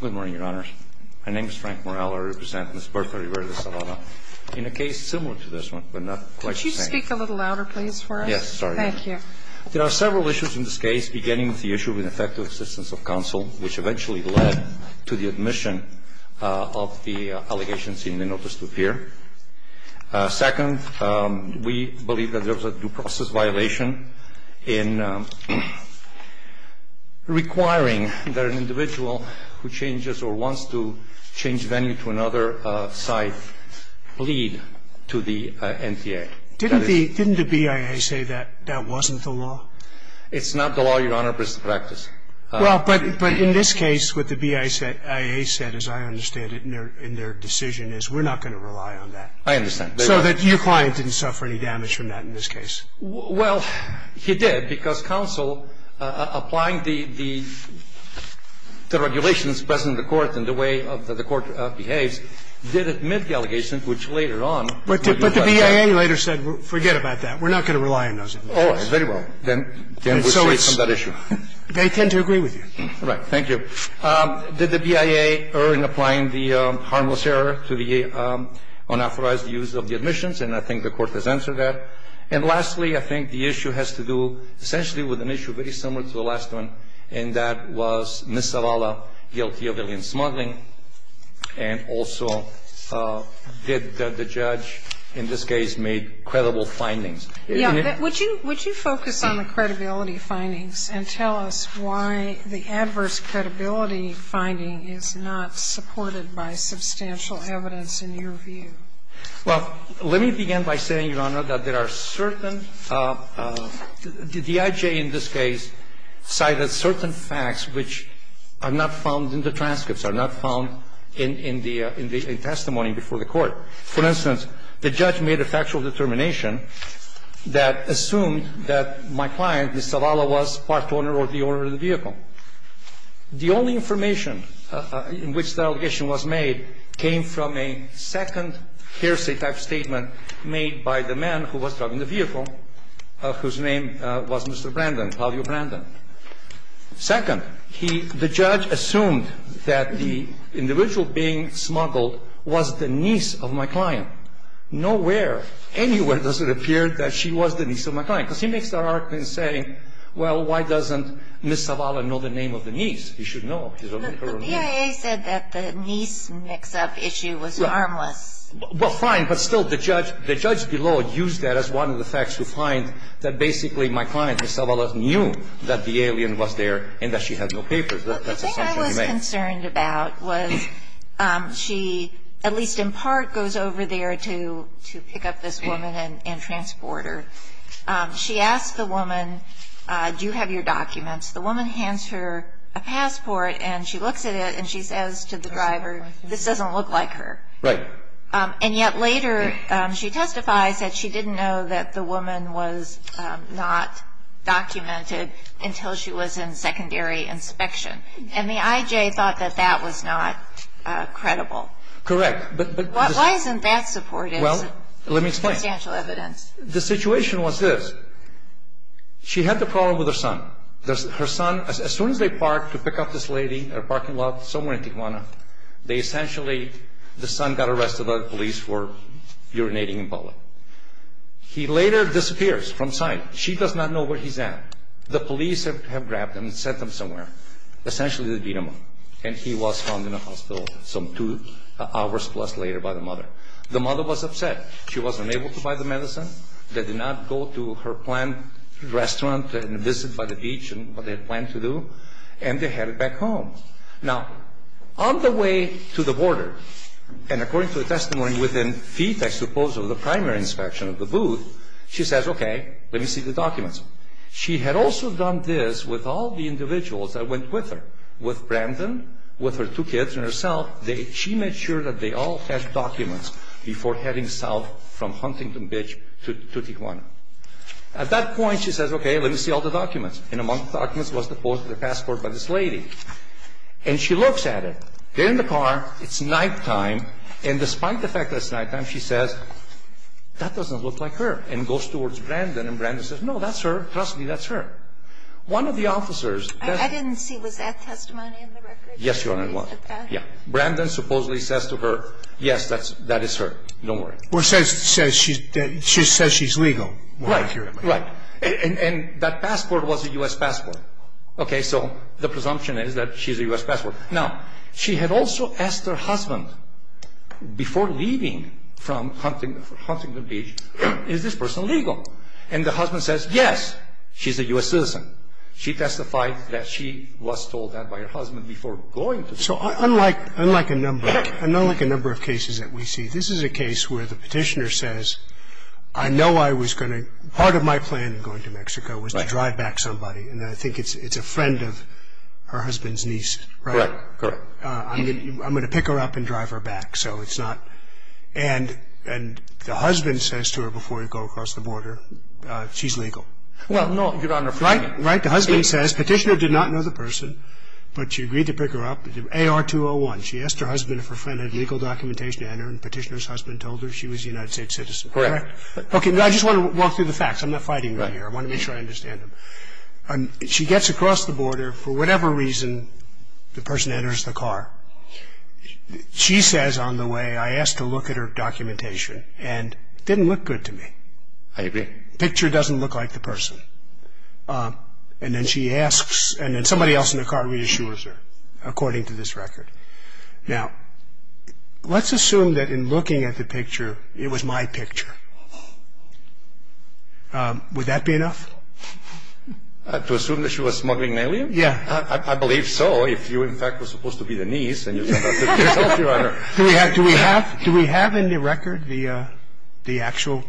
Good morning, Your Honors. My name is Frank Morrella. I represent Ms. Bertha Rivera De Zavala in a case similar to this one, but not quite the same. Could you speak a little louder, please, for us? Yes, sorry. Thank you. There are several issues in this case, beginning with the issue of ineffective assistance of counsel, which eventually led to the admission of the allegations in the notice to appear. Second, we believe that there was a due process violation in requiring that an individual who changes or wants to change venue to another site bleed to the NTA. Didn't the BIA say that that wasn't the law? It's not the law, Your Honor, but it's the practice. Well, but in this case, what the BIA said, as I understand it, in their decision, is we're not going to rely on that. I understand. So that your client didn't suffer any damage from that in this case. Well, he did, because counsel, applying the regulations present in the court and the way the court behaves, did admit the allegations, which later on were due process. But the BIA later said, forget about that. We're not going to rely on those. Oh, very well. Then we'll stay on that issue. They tend to agree with you. All right. Thank you. Did the BIA err in applying the harmless error to the unauthorized use of the admissions? And I think the Court has answered that. And lastly, I think the issue has to do essentially with an issue very similar to the last one, and that was Ms. Zavala guilty of alien smuggling, and also did the judge in this case make credible findings? Yeah. Would you focus on the credibility findings and tell us why the adverse credibility finding is not supported by substantial evidence in your view? Well, let me begin by saying, Your Honor, that there are certain – the IJ in this case cited certain facts which are not found in the transcripts, are not found in the testimony before the Court. For instance, the judge made a factual determination that assumed that my client, Ms. Zavala, was part owner or the owner of the vehicle. The only information in which the allegation was made came from a second hearsay type statement made by the man who was driving the vehicle, whose name was Mr. Brandon, Claudio Brandon. Second, he – the judge assumed that the individual being smuggled was the niece of my client. Nowhere, anywhere does it appear that she was the niece of my client. Because he makes the argument saying, well, why doesn't Ms. Zavala know the name of the niece? She should know. But the PIA said that the niece mix-up issue was harmless. Well, fine. But still, the judge – the judge below used that as one of the facts to find that basically my client, Ms. Zavala, knew that the alien was there and that she had no papers. Well, the thing I was concerned about was she, at least in part, goes over there to pick up this woman and transport her. She asks the woman, do you have your documents? The woman hands her a passport and she looks at it and she says to the driver, this doesn't look like her. Right. And yet later she testifies that she didn't know that the woman was not documented until she was in secondary inspection. And the IJ thought that that was not credible. Correct. But – Why isn't that supported? Well, let me explain. Substantial evidence. The situation was this. She had the problem with her son. Her son, as soon as they parked to pick up this lady in a parking lot somewhere in Tijuana, they essentially – the son got arrested by the police for urinating in public. He later disappears from sight. She does not know where he's at. The police have grabbed him and sent him somewhere. Essentially, they beat him up. And he was found in a hospital some two hours plus later by the mother. The mother was upset. She wasn't able to buy the medicine. They did not go to her planned restaurant and visit by the beach and what they had planned to do. And they headed back home. of the booth. She says, okay, let me see the documents. She had also done this with all the individuals that went with her, with Brandon, with her two kids and herself. She made sure that they all had documents before heading south from Huntington Beach to Tijuana. At that point, she says, okay, let me see all the documents. And among the documents was the passport by this lady. And she looks at it. They're in the car. It's nighttime. And despite the fact that it's nighttime, she says, that doesn't look like her, and goes towards Brandon. And Brandon says, no, that's her. Trust me, that's her. One of the officers. I didn't see. Was that testimony in the record? Yes, Your Honor, it was. Yeah. Brandon supposedly says to her, yes, that is her. Don't worry. Or says she's legal. Right. Right. And that passport was a U.S. passport. Okay. So the presumption is that she's a U.S. passport. Now, she had also asked her husband before leaving from Huntington Beach, is this person legal? And the husband says, yes, she's a U.S. citizen. She testified that she was told that by her husband before going. So unlike a number of cases that we see, this is a case where the petitioner says, I know I was going to – part of my plan in going to Mexico was to drive back somebody. And I think it's a friend of her husband's niece. Right. Correct. I'm going to pick her up and drive her back. So it's not – and the husband says to her before you go across the border, she's legal. Well, no, Your Honor. Right. Right. The husband says, petitioner did not know the person, but she agreed to pick her up, AR-201. She asked her husband if her friend had legal documentation on her, and the petitioner's husband told her she was a United States citizen. Correct. Okay. I just want to walk through the facts. I'm not fighting right here. I want to make sure I understand them. She gets across the border. For whatever reason, the person enters the car. She says on the way, I asked to look at her documentation, and it didn't look good to me. I agree. The picture doesn't look like the person. And then she asks, and then somebody else in the car reassures her, according to this record. Now, let's assume that in looking at the picture, it was my picture. Would that be enough? To assume that she was smuggling an alien? Yeah. I believe so, if you, in fact, were supposed to be the niece, and you're supposed to be herself, Your Honor. Do we have in the record the actual?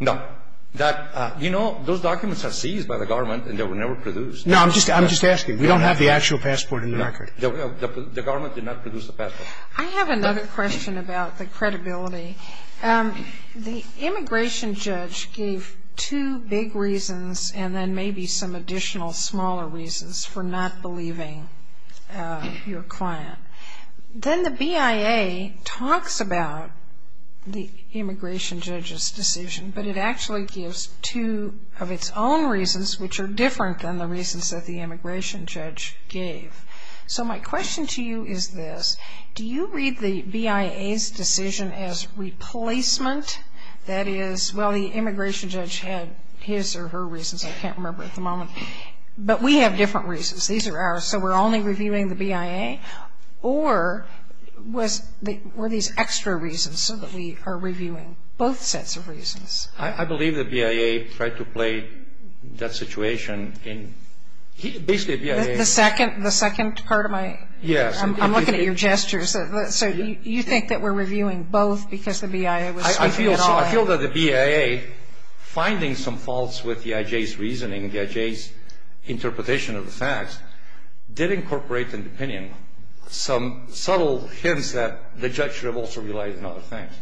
No. You know, those documents are seized by the government, and they were never produced. No, I'm just asking. We don't have the actual passport in the record. The government did not produce the passport. I have another question about the credibility. The immigration judge gave two big reasons, and then maybe some additional smaller reasons for not believing your client. Then the BIA talks about the immigration judge's decision, but it actually gives two of its own reasons, which are different than the reasons that the immigration judge gave. So my question to you is this. Do you read the BIA's decision as replacement? That is, well, the immigration judge had his or her reasons. I can't remember at the moment. But we have different reasons. These are ours, so we're only reviewing the BIA, or were these extra reasons so that we are reviewing both sets of reasons? I believe the BIA tried to play that situation in basically the BIA. The second part of my question? Yes. I'm looking at your gestures. So you think that we're reviewing both because the BIA was sweeping it all in? I feel that the BIA, finding some faults with the IJ's reasoning, the IJ's interpretation of the facts, did incorporate in the opinion some subtle hints that the judge should have also relied on other things,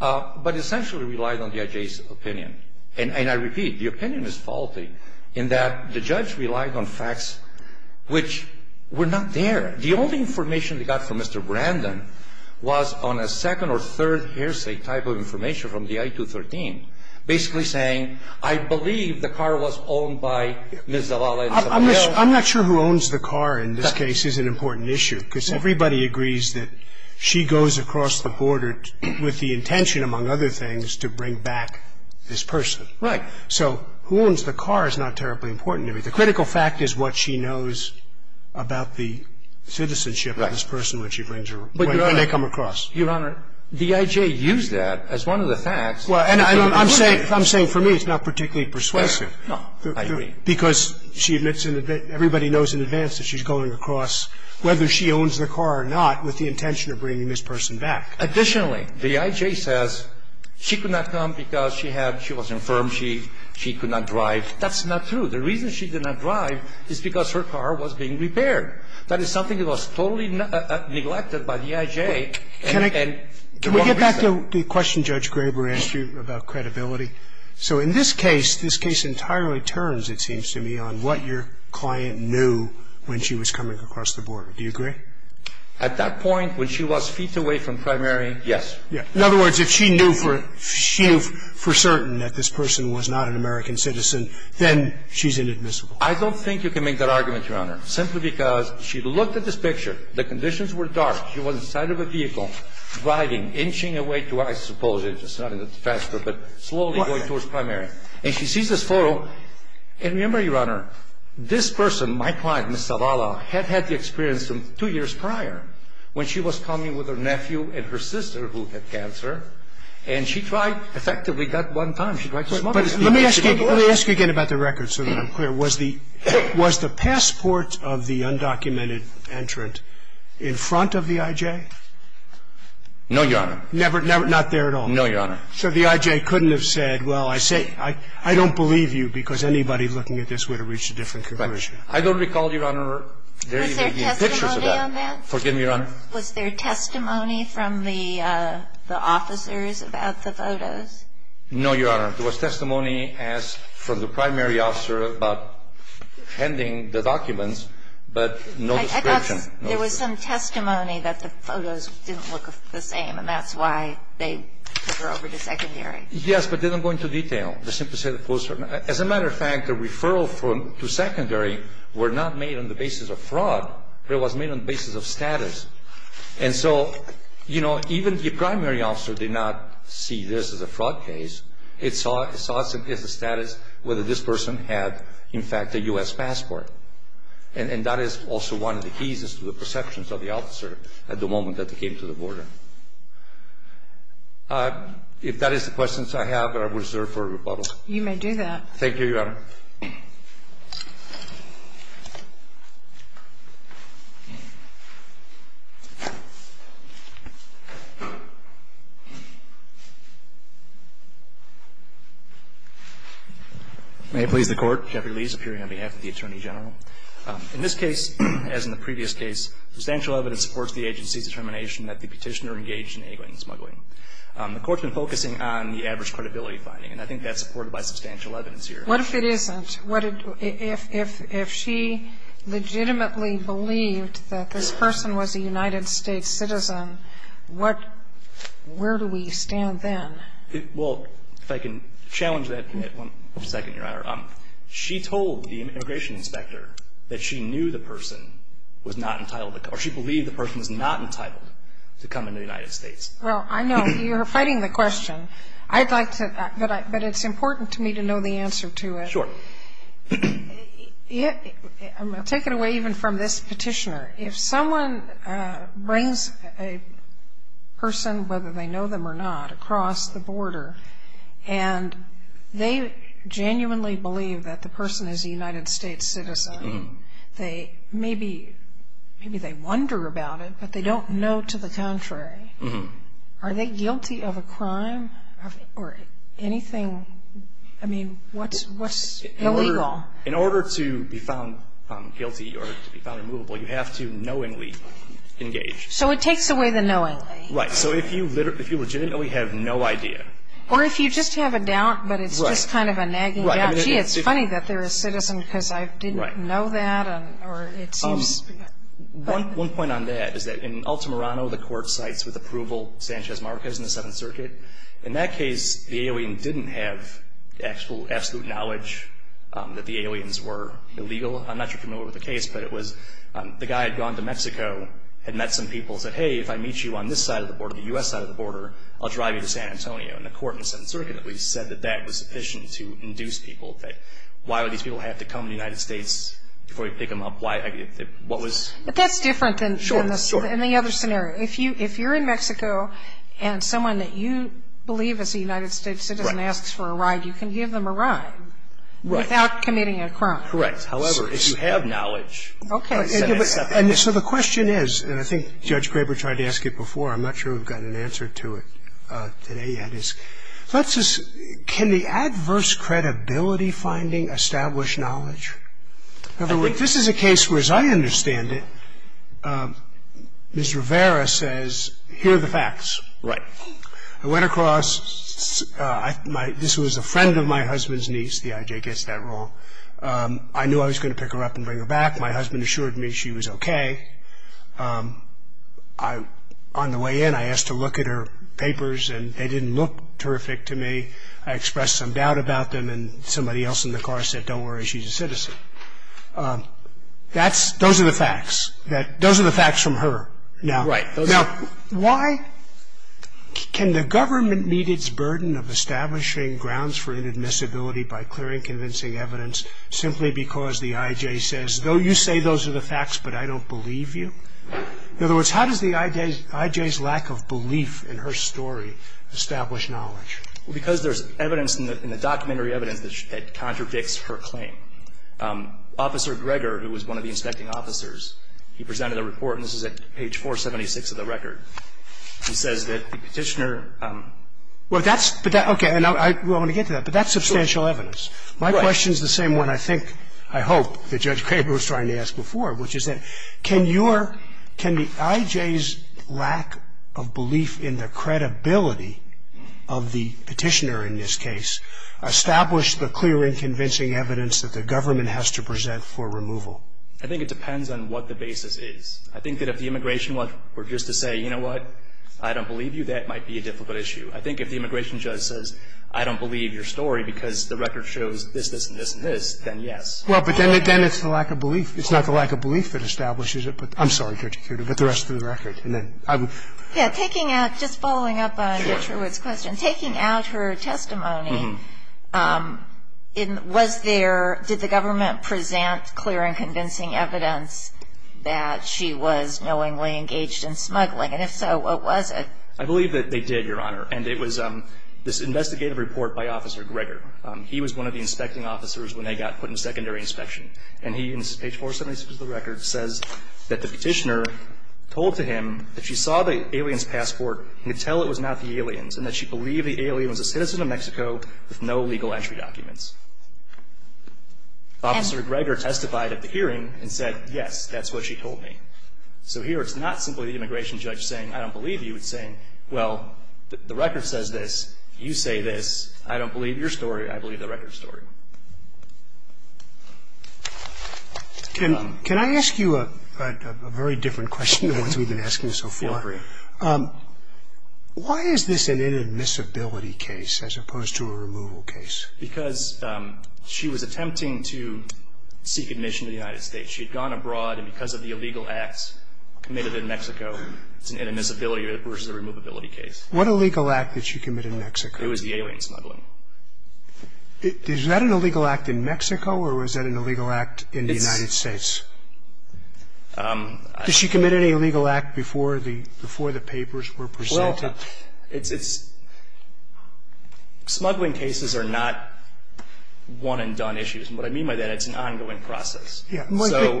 but essentially relied on the IJ's opinion. And I repeat, the opinion is faulty in that the judge relied on facts which were not there. The only information they got from Mr. Brandon was on a second or third hearsay type of information from the I-213, basically saying I believe the car was owned by Ms. Zavala. I'm not sure who owns the car in this case is an important issue, because everybody agrees that she goes across the border with the intention, among other things, to bring back this person. Right. So who owns the car is not terribly important to me. The critical fact is what she knows about the citizenship of this person when she brings her – when they come across. Your Honor, the IJ used that as one of the facts. Well, and I'm saying for me it's not particularly persuasive. No, I agree. Because she admits in advance – everybody knows in advance that she's going across whether she owns the car or not with the intention of bringing this person back. Additionally, the IJ says she could not come because she had – she was infirmed she could not drive. That's not true. The reason she did not drive is because her car was being repaired. That is something that was totally neglected by the IJ. Can I – can we get back to the question Judge Graber asked you about credibility? So in this case, this case entirely turns, it seems to me, on what your client knew when she was coming across the border. Do you agree? At that point when she was feet away from primary, yes. In other words, if she knew for – she knew for certain that this person was not an American citizen, then she's inadmissible. I don't think you can make that argument, Your Honor, simply because she looked at this picture. The conditions were dark. She was inside of a vehicle driving, inching away to, I suppose, it's not in the transfer, but slowly going towards primary. And she sees this photo. And remember, Your Honor, this person, my client, Ms. Zavala, had had the experience two years prior when she was coming with her nephew and her sister who had cancer. And she tried, effectively, that one time. She tried to smoke. Let me ask you again about the records so that I'm clear. Was the passport of the undocumented entrant in front of the IJ? No, Your Honor. Not there at all? No, Your Honor. So the IJ couldn't have said, well, I don't believe you because anybody looking at this would have reached a different conclusion. I don't recall, Your Honor, there even being a picture. Was there testimony on that? Forgive me, Your Honor. Was there testimony from the officers about the photos? No, Your Honor. There was testimony asked from the primary officer about handing the documents, but no description. I thought there was some testimony that the photos didn't look the same, and that's why they were over to secondary. Yes, but they didn't go into detail. They simply said it was certain. As a matter of fact, the referral to secondary were not made on the basis of fraud, but it was made on the basis of status. And so, you know, even the primary officer did not see this as a fraud case. It saw it as a status whether this person had, in fact, a U.S. passport. And that is also one of the keys is to the perceptions of the officer at the moment that they came to the border. If that is the questions I have, I will reserve for rebuttal. You may do that. Thank you, Your Honor. May it please the Court. Jeffrey Lee is appearing on behalf of the Attorney General. In this case, as in the previous case, substantial evidence supports the agency's determination that the petitioner engaged in egging and smuggling. The Court has been focusing on the adverse credibility finding, and I think that is supported by substantial evidence here. What if it isn't? If she legitimately believed that this person was a United States citizen, what – where do we stand then? Well, if I can challenge that for a second, Your Honor. She told the immigration inspector that she knew the person was not entitled to come – or she believed the person was not entitled to come into the United States. Well, I know. You're fighting the question. I'd like to – but it's important to me to know the answer to it. Sure. I'm going to take it away even from this petitioner. If someone brings a person, whether they know them or not, across the border, and they genuinely believe that the person is a United States citizen, they maybe – maybe they wonder about it, but they don't know to the contrary. Are they guilty of a crime or anything? I mean, what's illegal? In order to be found guilty or to be found immovable, you have to knowingly engage. So it takes away the knowing. Right. So if you legitimately have no idea. Or if you just have a doubt, but it's just kind of a nagging doubt. Right. Gee, it's funny that they're a citizen because I didn't know that, or it seems – One point on that is that in Altamirano, the court cites with approval Sanchez Marquez in the Seventh Circuit. In that case, the alien didn't have absolute knowledge that the aliens were illegal. I'm not sure if you're familiar with the case, but it was – the guy had gone to Mexico, had met some people, said, hey, if I meet you on this side of the border, the U.S. side of the border, I'll drive you to San Antonio. And the court in the Seventh Circuit at least said that that was sufficient to induce people that – why would these people have to come to the United States before you pick them up? What was – But that's different than the other scenario. If you're in Mexico and someone that you believe is a United States citizen asks for a ride, you can give them a ride without committing a crime. Correct. However, if you have knowledge – Okay. So the question is, and I think Judge Graber tried to ask it before. I'm not sure we've gotten an answer to it today yet. Can the adverse credibility finding establish knowledge? In other words, this is a case where, as I understand it, Ms. Rivera says, hear the facts. Right. I went across – this was a friend of my husband's niece. The IJ gets that wrong. I knew I was going to pick her up and bring her back. My husband assured me she was okay. On the way in, I asked to look at her papers, and they didn't look terrific to me. I expressed some doubt about them, and somebody else in the car said, don't worry, she's a citizen. That's – those are the facts. Those are the facts from her. Right. Now, why – can the government meet its burden of establishing grounds for inadmissibility by clearing convincing evidence simply because the IJ says, though you say those are the facts, but I don't believe you? In other words, how does the IJ's lack of belief in her story establish knowledge? Well, because there's evidence in the documentary evidence that contradicts her claim. Officer Greger, who was one of the inspecting officers, he presented a report, and this is at page 476 of the record. He says that the Petitioner – Well, that's – okay, and I want to get to that, but that's substantial evidence. My question is the same one I think, I hope, that Judge Craver was trying to ask before, which is that can your – can the IJ's lack of belief in the credibility of the Petitioner in this case establish the clear and convincing evidence that the government has to present for removal? I think it depends on what the basis is. I think that if the immigration judge were just to say, you know what, I don't believe you, that might be a difficult issue. I think if the immigration judge says, I don't believe your story because the record shows this, this, and this, and this, then yes. Well, but then it's the lack of belief. It's not the lack of belief that establishes it, but I'm sorry, Judge Kuter, but the rest of the record. Yeah, taking out – just following up on Judge Hurwitz's question. Sure. Taking out her testimony, was there – did the government present clear and convincing evidence that she was knowingly engaged in smuggling? And if so, what was it? I believe that they did, Your Honor. And it was this investigative report by Officer Greger. He was one of the inspecting officers when they got put in secondary inspection. And he, in page 476 of the record, says that the Petitioner told to him that she saw the alien's passport and could tell it was not the alien's and that she believed the alien was a citizen of Mexico with no legal entry documents. Officer Greger testified at the hearing and said, yes, that's what she told me. So here it's not simply the immigration judge saying, I don't believe you. It's saying, well, the record says this. You say this. I don't believe your story. I believe the record's story. Can I ask you a very different question than the ones we've been asking so far? Feel free. Why is this an inadmissibility case as opposed to a removal case? Because she was attempting to seek admission to the United States. She had gone abroad. And because of the illegal acts committed in Mexico, it's an inadmissibility versus a removability case. What illegal act did she commit in Mexico? It was the alien smuggling. Is that an illegal act in Mexico or was that an illegal act in the United States? Did she commit any illegal act before the papers were presented? Well, it's – smuggling cases are not one-and-done issues. And what I mean by that, it's an ongoing process. Let me tell you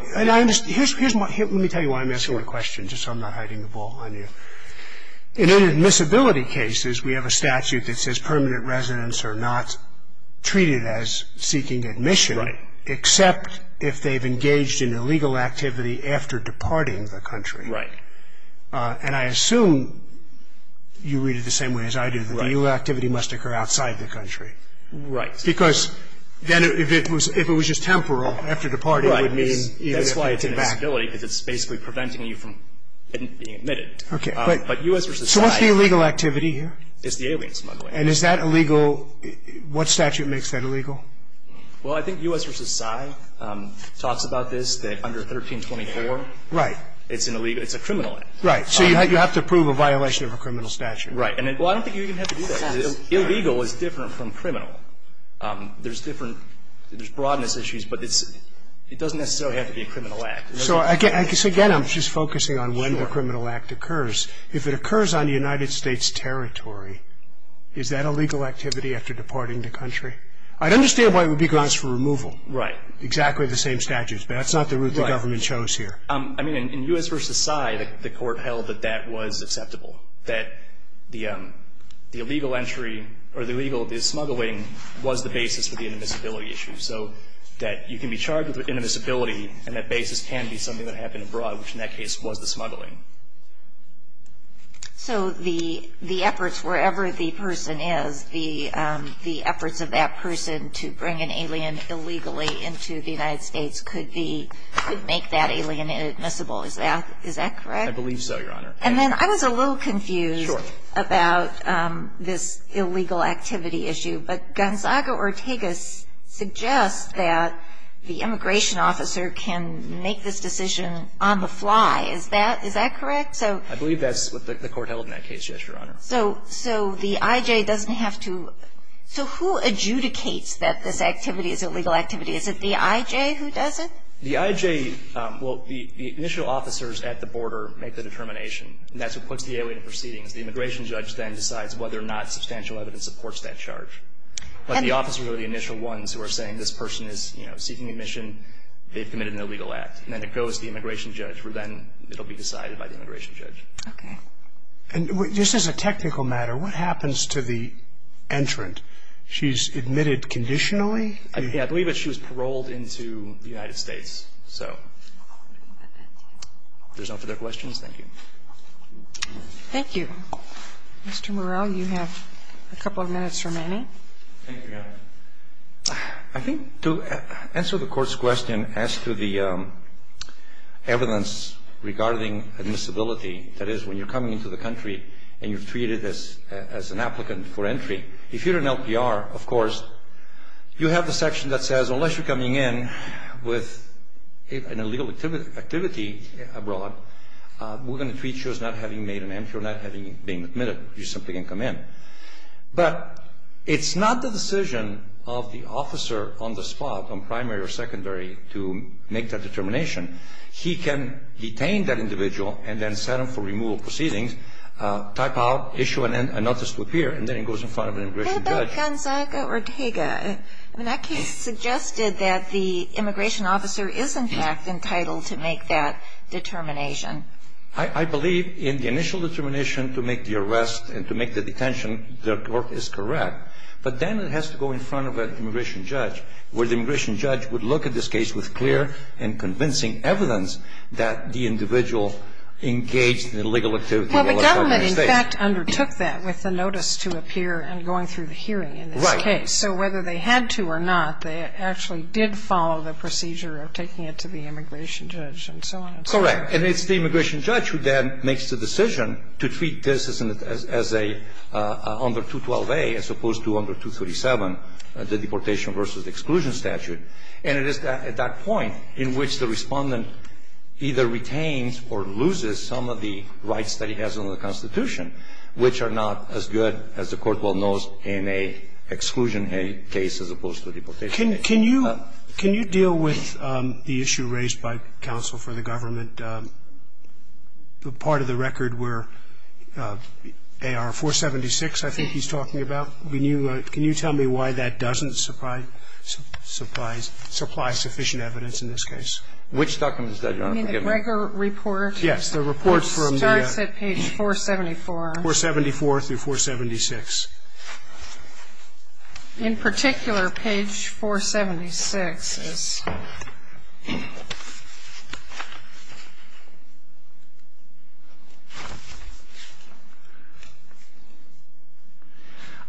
why I'm asking the question, just so I'm not hiding the ball on you. In inadmissibility cases, we have a statute that says permanent residents are not treated as seeking admission. Right. Except if they've engaged in illegal activity after departing the country. Right. And I assume you read it the same way as I do, that the illegal activity must occur outside the country. Right. Yes. Because then if it was just temporal, after departing, it would mean even if they came back. Right. I mean, that's why it's inadmissibility, because it's basically preventing you from being admitted. Okay. But U.S. versus PSY. So what's the illegal activity here? It's the alien smuggling. And is that illegal – what statute makes that illegal? Well, I think U.S. versus PSY talks about this, that under 1324. Right. It's an illegal – it's a criminal act. Right. So you have to prove a violation of a criminal statute. Right. Well, I don't think you even have to do that, because illegal is different from criminal. There's different – there's broadness issues, but it doesn't necessarily have to be a criminal act. So, again, I'm just focusing on when the criminal act occurs. If it occurs on United States territory, is that a legal activity after departing the country? I'd understand why it would be grounds for removal. Right. Exactly the same statutes, but that's not the route the government chose here. I mean, in U.S. versus PSY, the court held that that was acceptable, that the illegal entry – or the illegal smuggling was the basis for the inadmissibility issue. So that you can be charged with inadmissibility, and that basis can be something that happened abroad, which in that case was the smuggling. So the efforts, wherever the person is, the efforts of that person to bring an alien illegally into the United States could be – could make that alien inadmissible. Is that correct? I believe so, Your Honor. And then I was a little confused about this illegal activity issue. But Gonzaga-Ortega suggests that the immigration officer can make this decision on the fly. Is that correct? I believe that's what the court held in that case, yes, Your Honor. So the I.J. doesn't have to – so who adjudicates that this activity is a legal activity? Is it the I.J. who does it? The I.J. – well, the initial officers at the border make the determination, and that's what puts the alien in proceedings. The immigration judge then decides whether or not substantial evidence supports that charge. But the officers are the initial ones who are saying this person is, you know, seeking admission. They've committed an illegal act. And then it goes to the immigration judge, where then it will be decided by the immigration judge. Okay. And just as a technical matter, what happens to the entrant? She's admitted conditionally? I believe that she was paroled into the United States. So if there's no further questions, thank you. Thank you. Mr. Morrell, you have a couple of minutes remaining. Thank you, Your Honor. I think to answer the Court's question as to the evidence regarding admissibility, that is, when you're coming into the country and you're treated as an applicant for entry, if you're an LPR, of course, you have the section that says, unless you're coming in with an illegal activity abroad, we're going to treat you as not having made an entry or not having been admitted. You simply can come in. But it's not the decision of the officer on the spot, on primary or secondary, to make that determination. He can detain that individual and then set him for removal of proceedings, type out, issue an notice to appear, and then he goes in front of an immigration judge. What about Gonzaga Ortega? I mean, that case suggested that the immigration officer is, in fact, entitled to make that determination. I believe in the initial determination to make the arrest and to make the detention, the Court is correct. But then it has to go in front of an immigration judge, where the immigration judge would look at this case with clear and convincing evidence that the individual engaged in illegal activity in the United States. Well, the government, in fact, undertook that with the notice to appear and going through the hearing in this case. Right. So whether they had to or not, they actually did follow the procedure of taking it to the immigration judge and so on and so forth. Correct. And it's the immigration judge who then makes the decision to treat this as a under 212A, as opposed to under 237, the deportation versus exclusion statute. And it is at that point in which the Respondent either retains or loses some of the rights that he has in the Constitution, which are not as good, as the Court well knows, in an exclusion case as opposed to a deportation case. Can you deal with the issue raised by counsel for the government, the part of the record where AR 476 I think he's talking about? Can you tell me why that doesn't supply sufficient evidence in this case? Which document is that, Your Honor? The Greger report? Yes, the report from the ---- It starts at page 474. 474 through 476. In particular, page 476.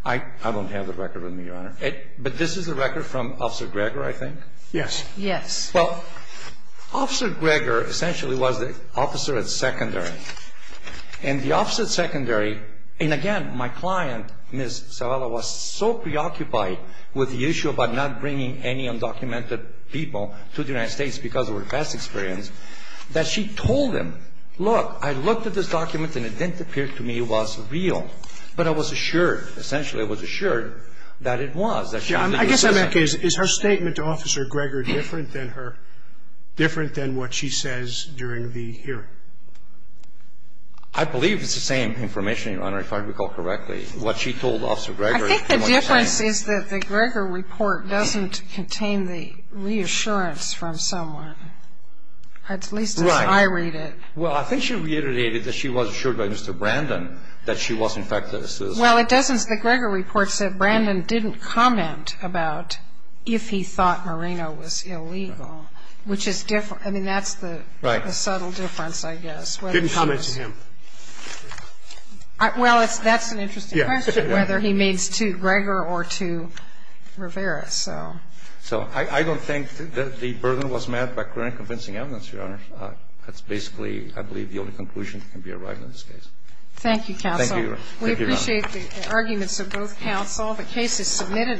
I don't have the record with me, Your Honor. But this is the record from Officer Greger, I think? Yes. Yes. Well, Officer Greger essentially was the officer at secondary. And the officer at secondary, and again, my client, Ms. Zavala, was so preoccupied with the issue of not bringing any undocumented people to the United States because of her past experience, that she told him, look, I looked at this document and it didn't appear to me it was real. But I was assured, essentially I was assured that it was. I guess I'm asking, is her statement to Officer Greger different than her, different than what she says during the hearing? I believe it's the same information, Your Honor, if I recall correctly. What she told Officer Greger. I think the difference is that the Greger report doesn't contain the reassurance from someone. At least as I read it. Right. Well, I think she reiterated that she was assured by Mr. Brandon that she was, in fact, a citizen. Well, it doesn't. The Greger report said Brandon didn't comment about if he thought Marino was illegal, which is different. I mean, that's the subtle difference, I guess. Didn't comment to him. Well, that's an interesting question, whether he means to Greger or to Rivera. So I don't think that the burden was met by clear and convincing evidence, Your Honor. That's basically, I believe, the only conclusion that can be arrived at in this case. Thank you, counsel. Thank you, Your Honor. We appreciate the arguments of both counsel. The case is submitted.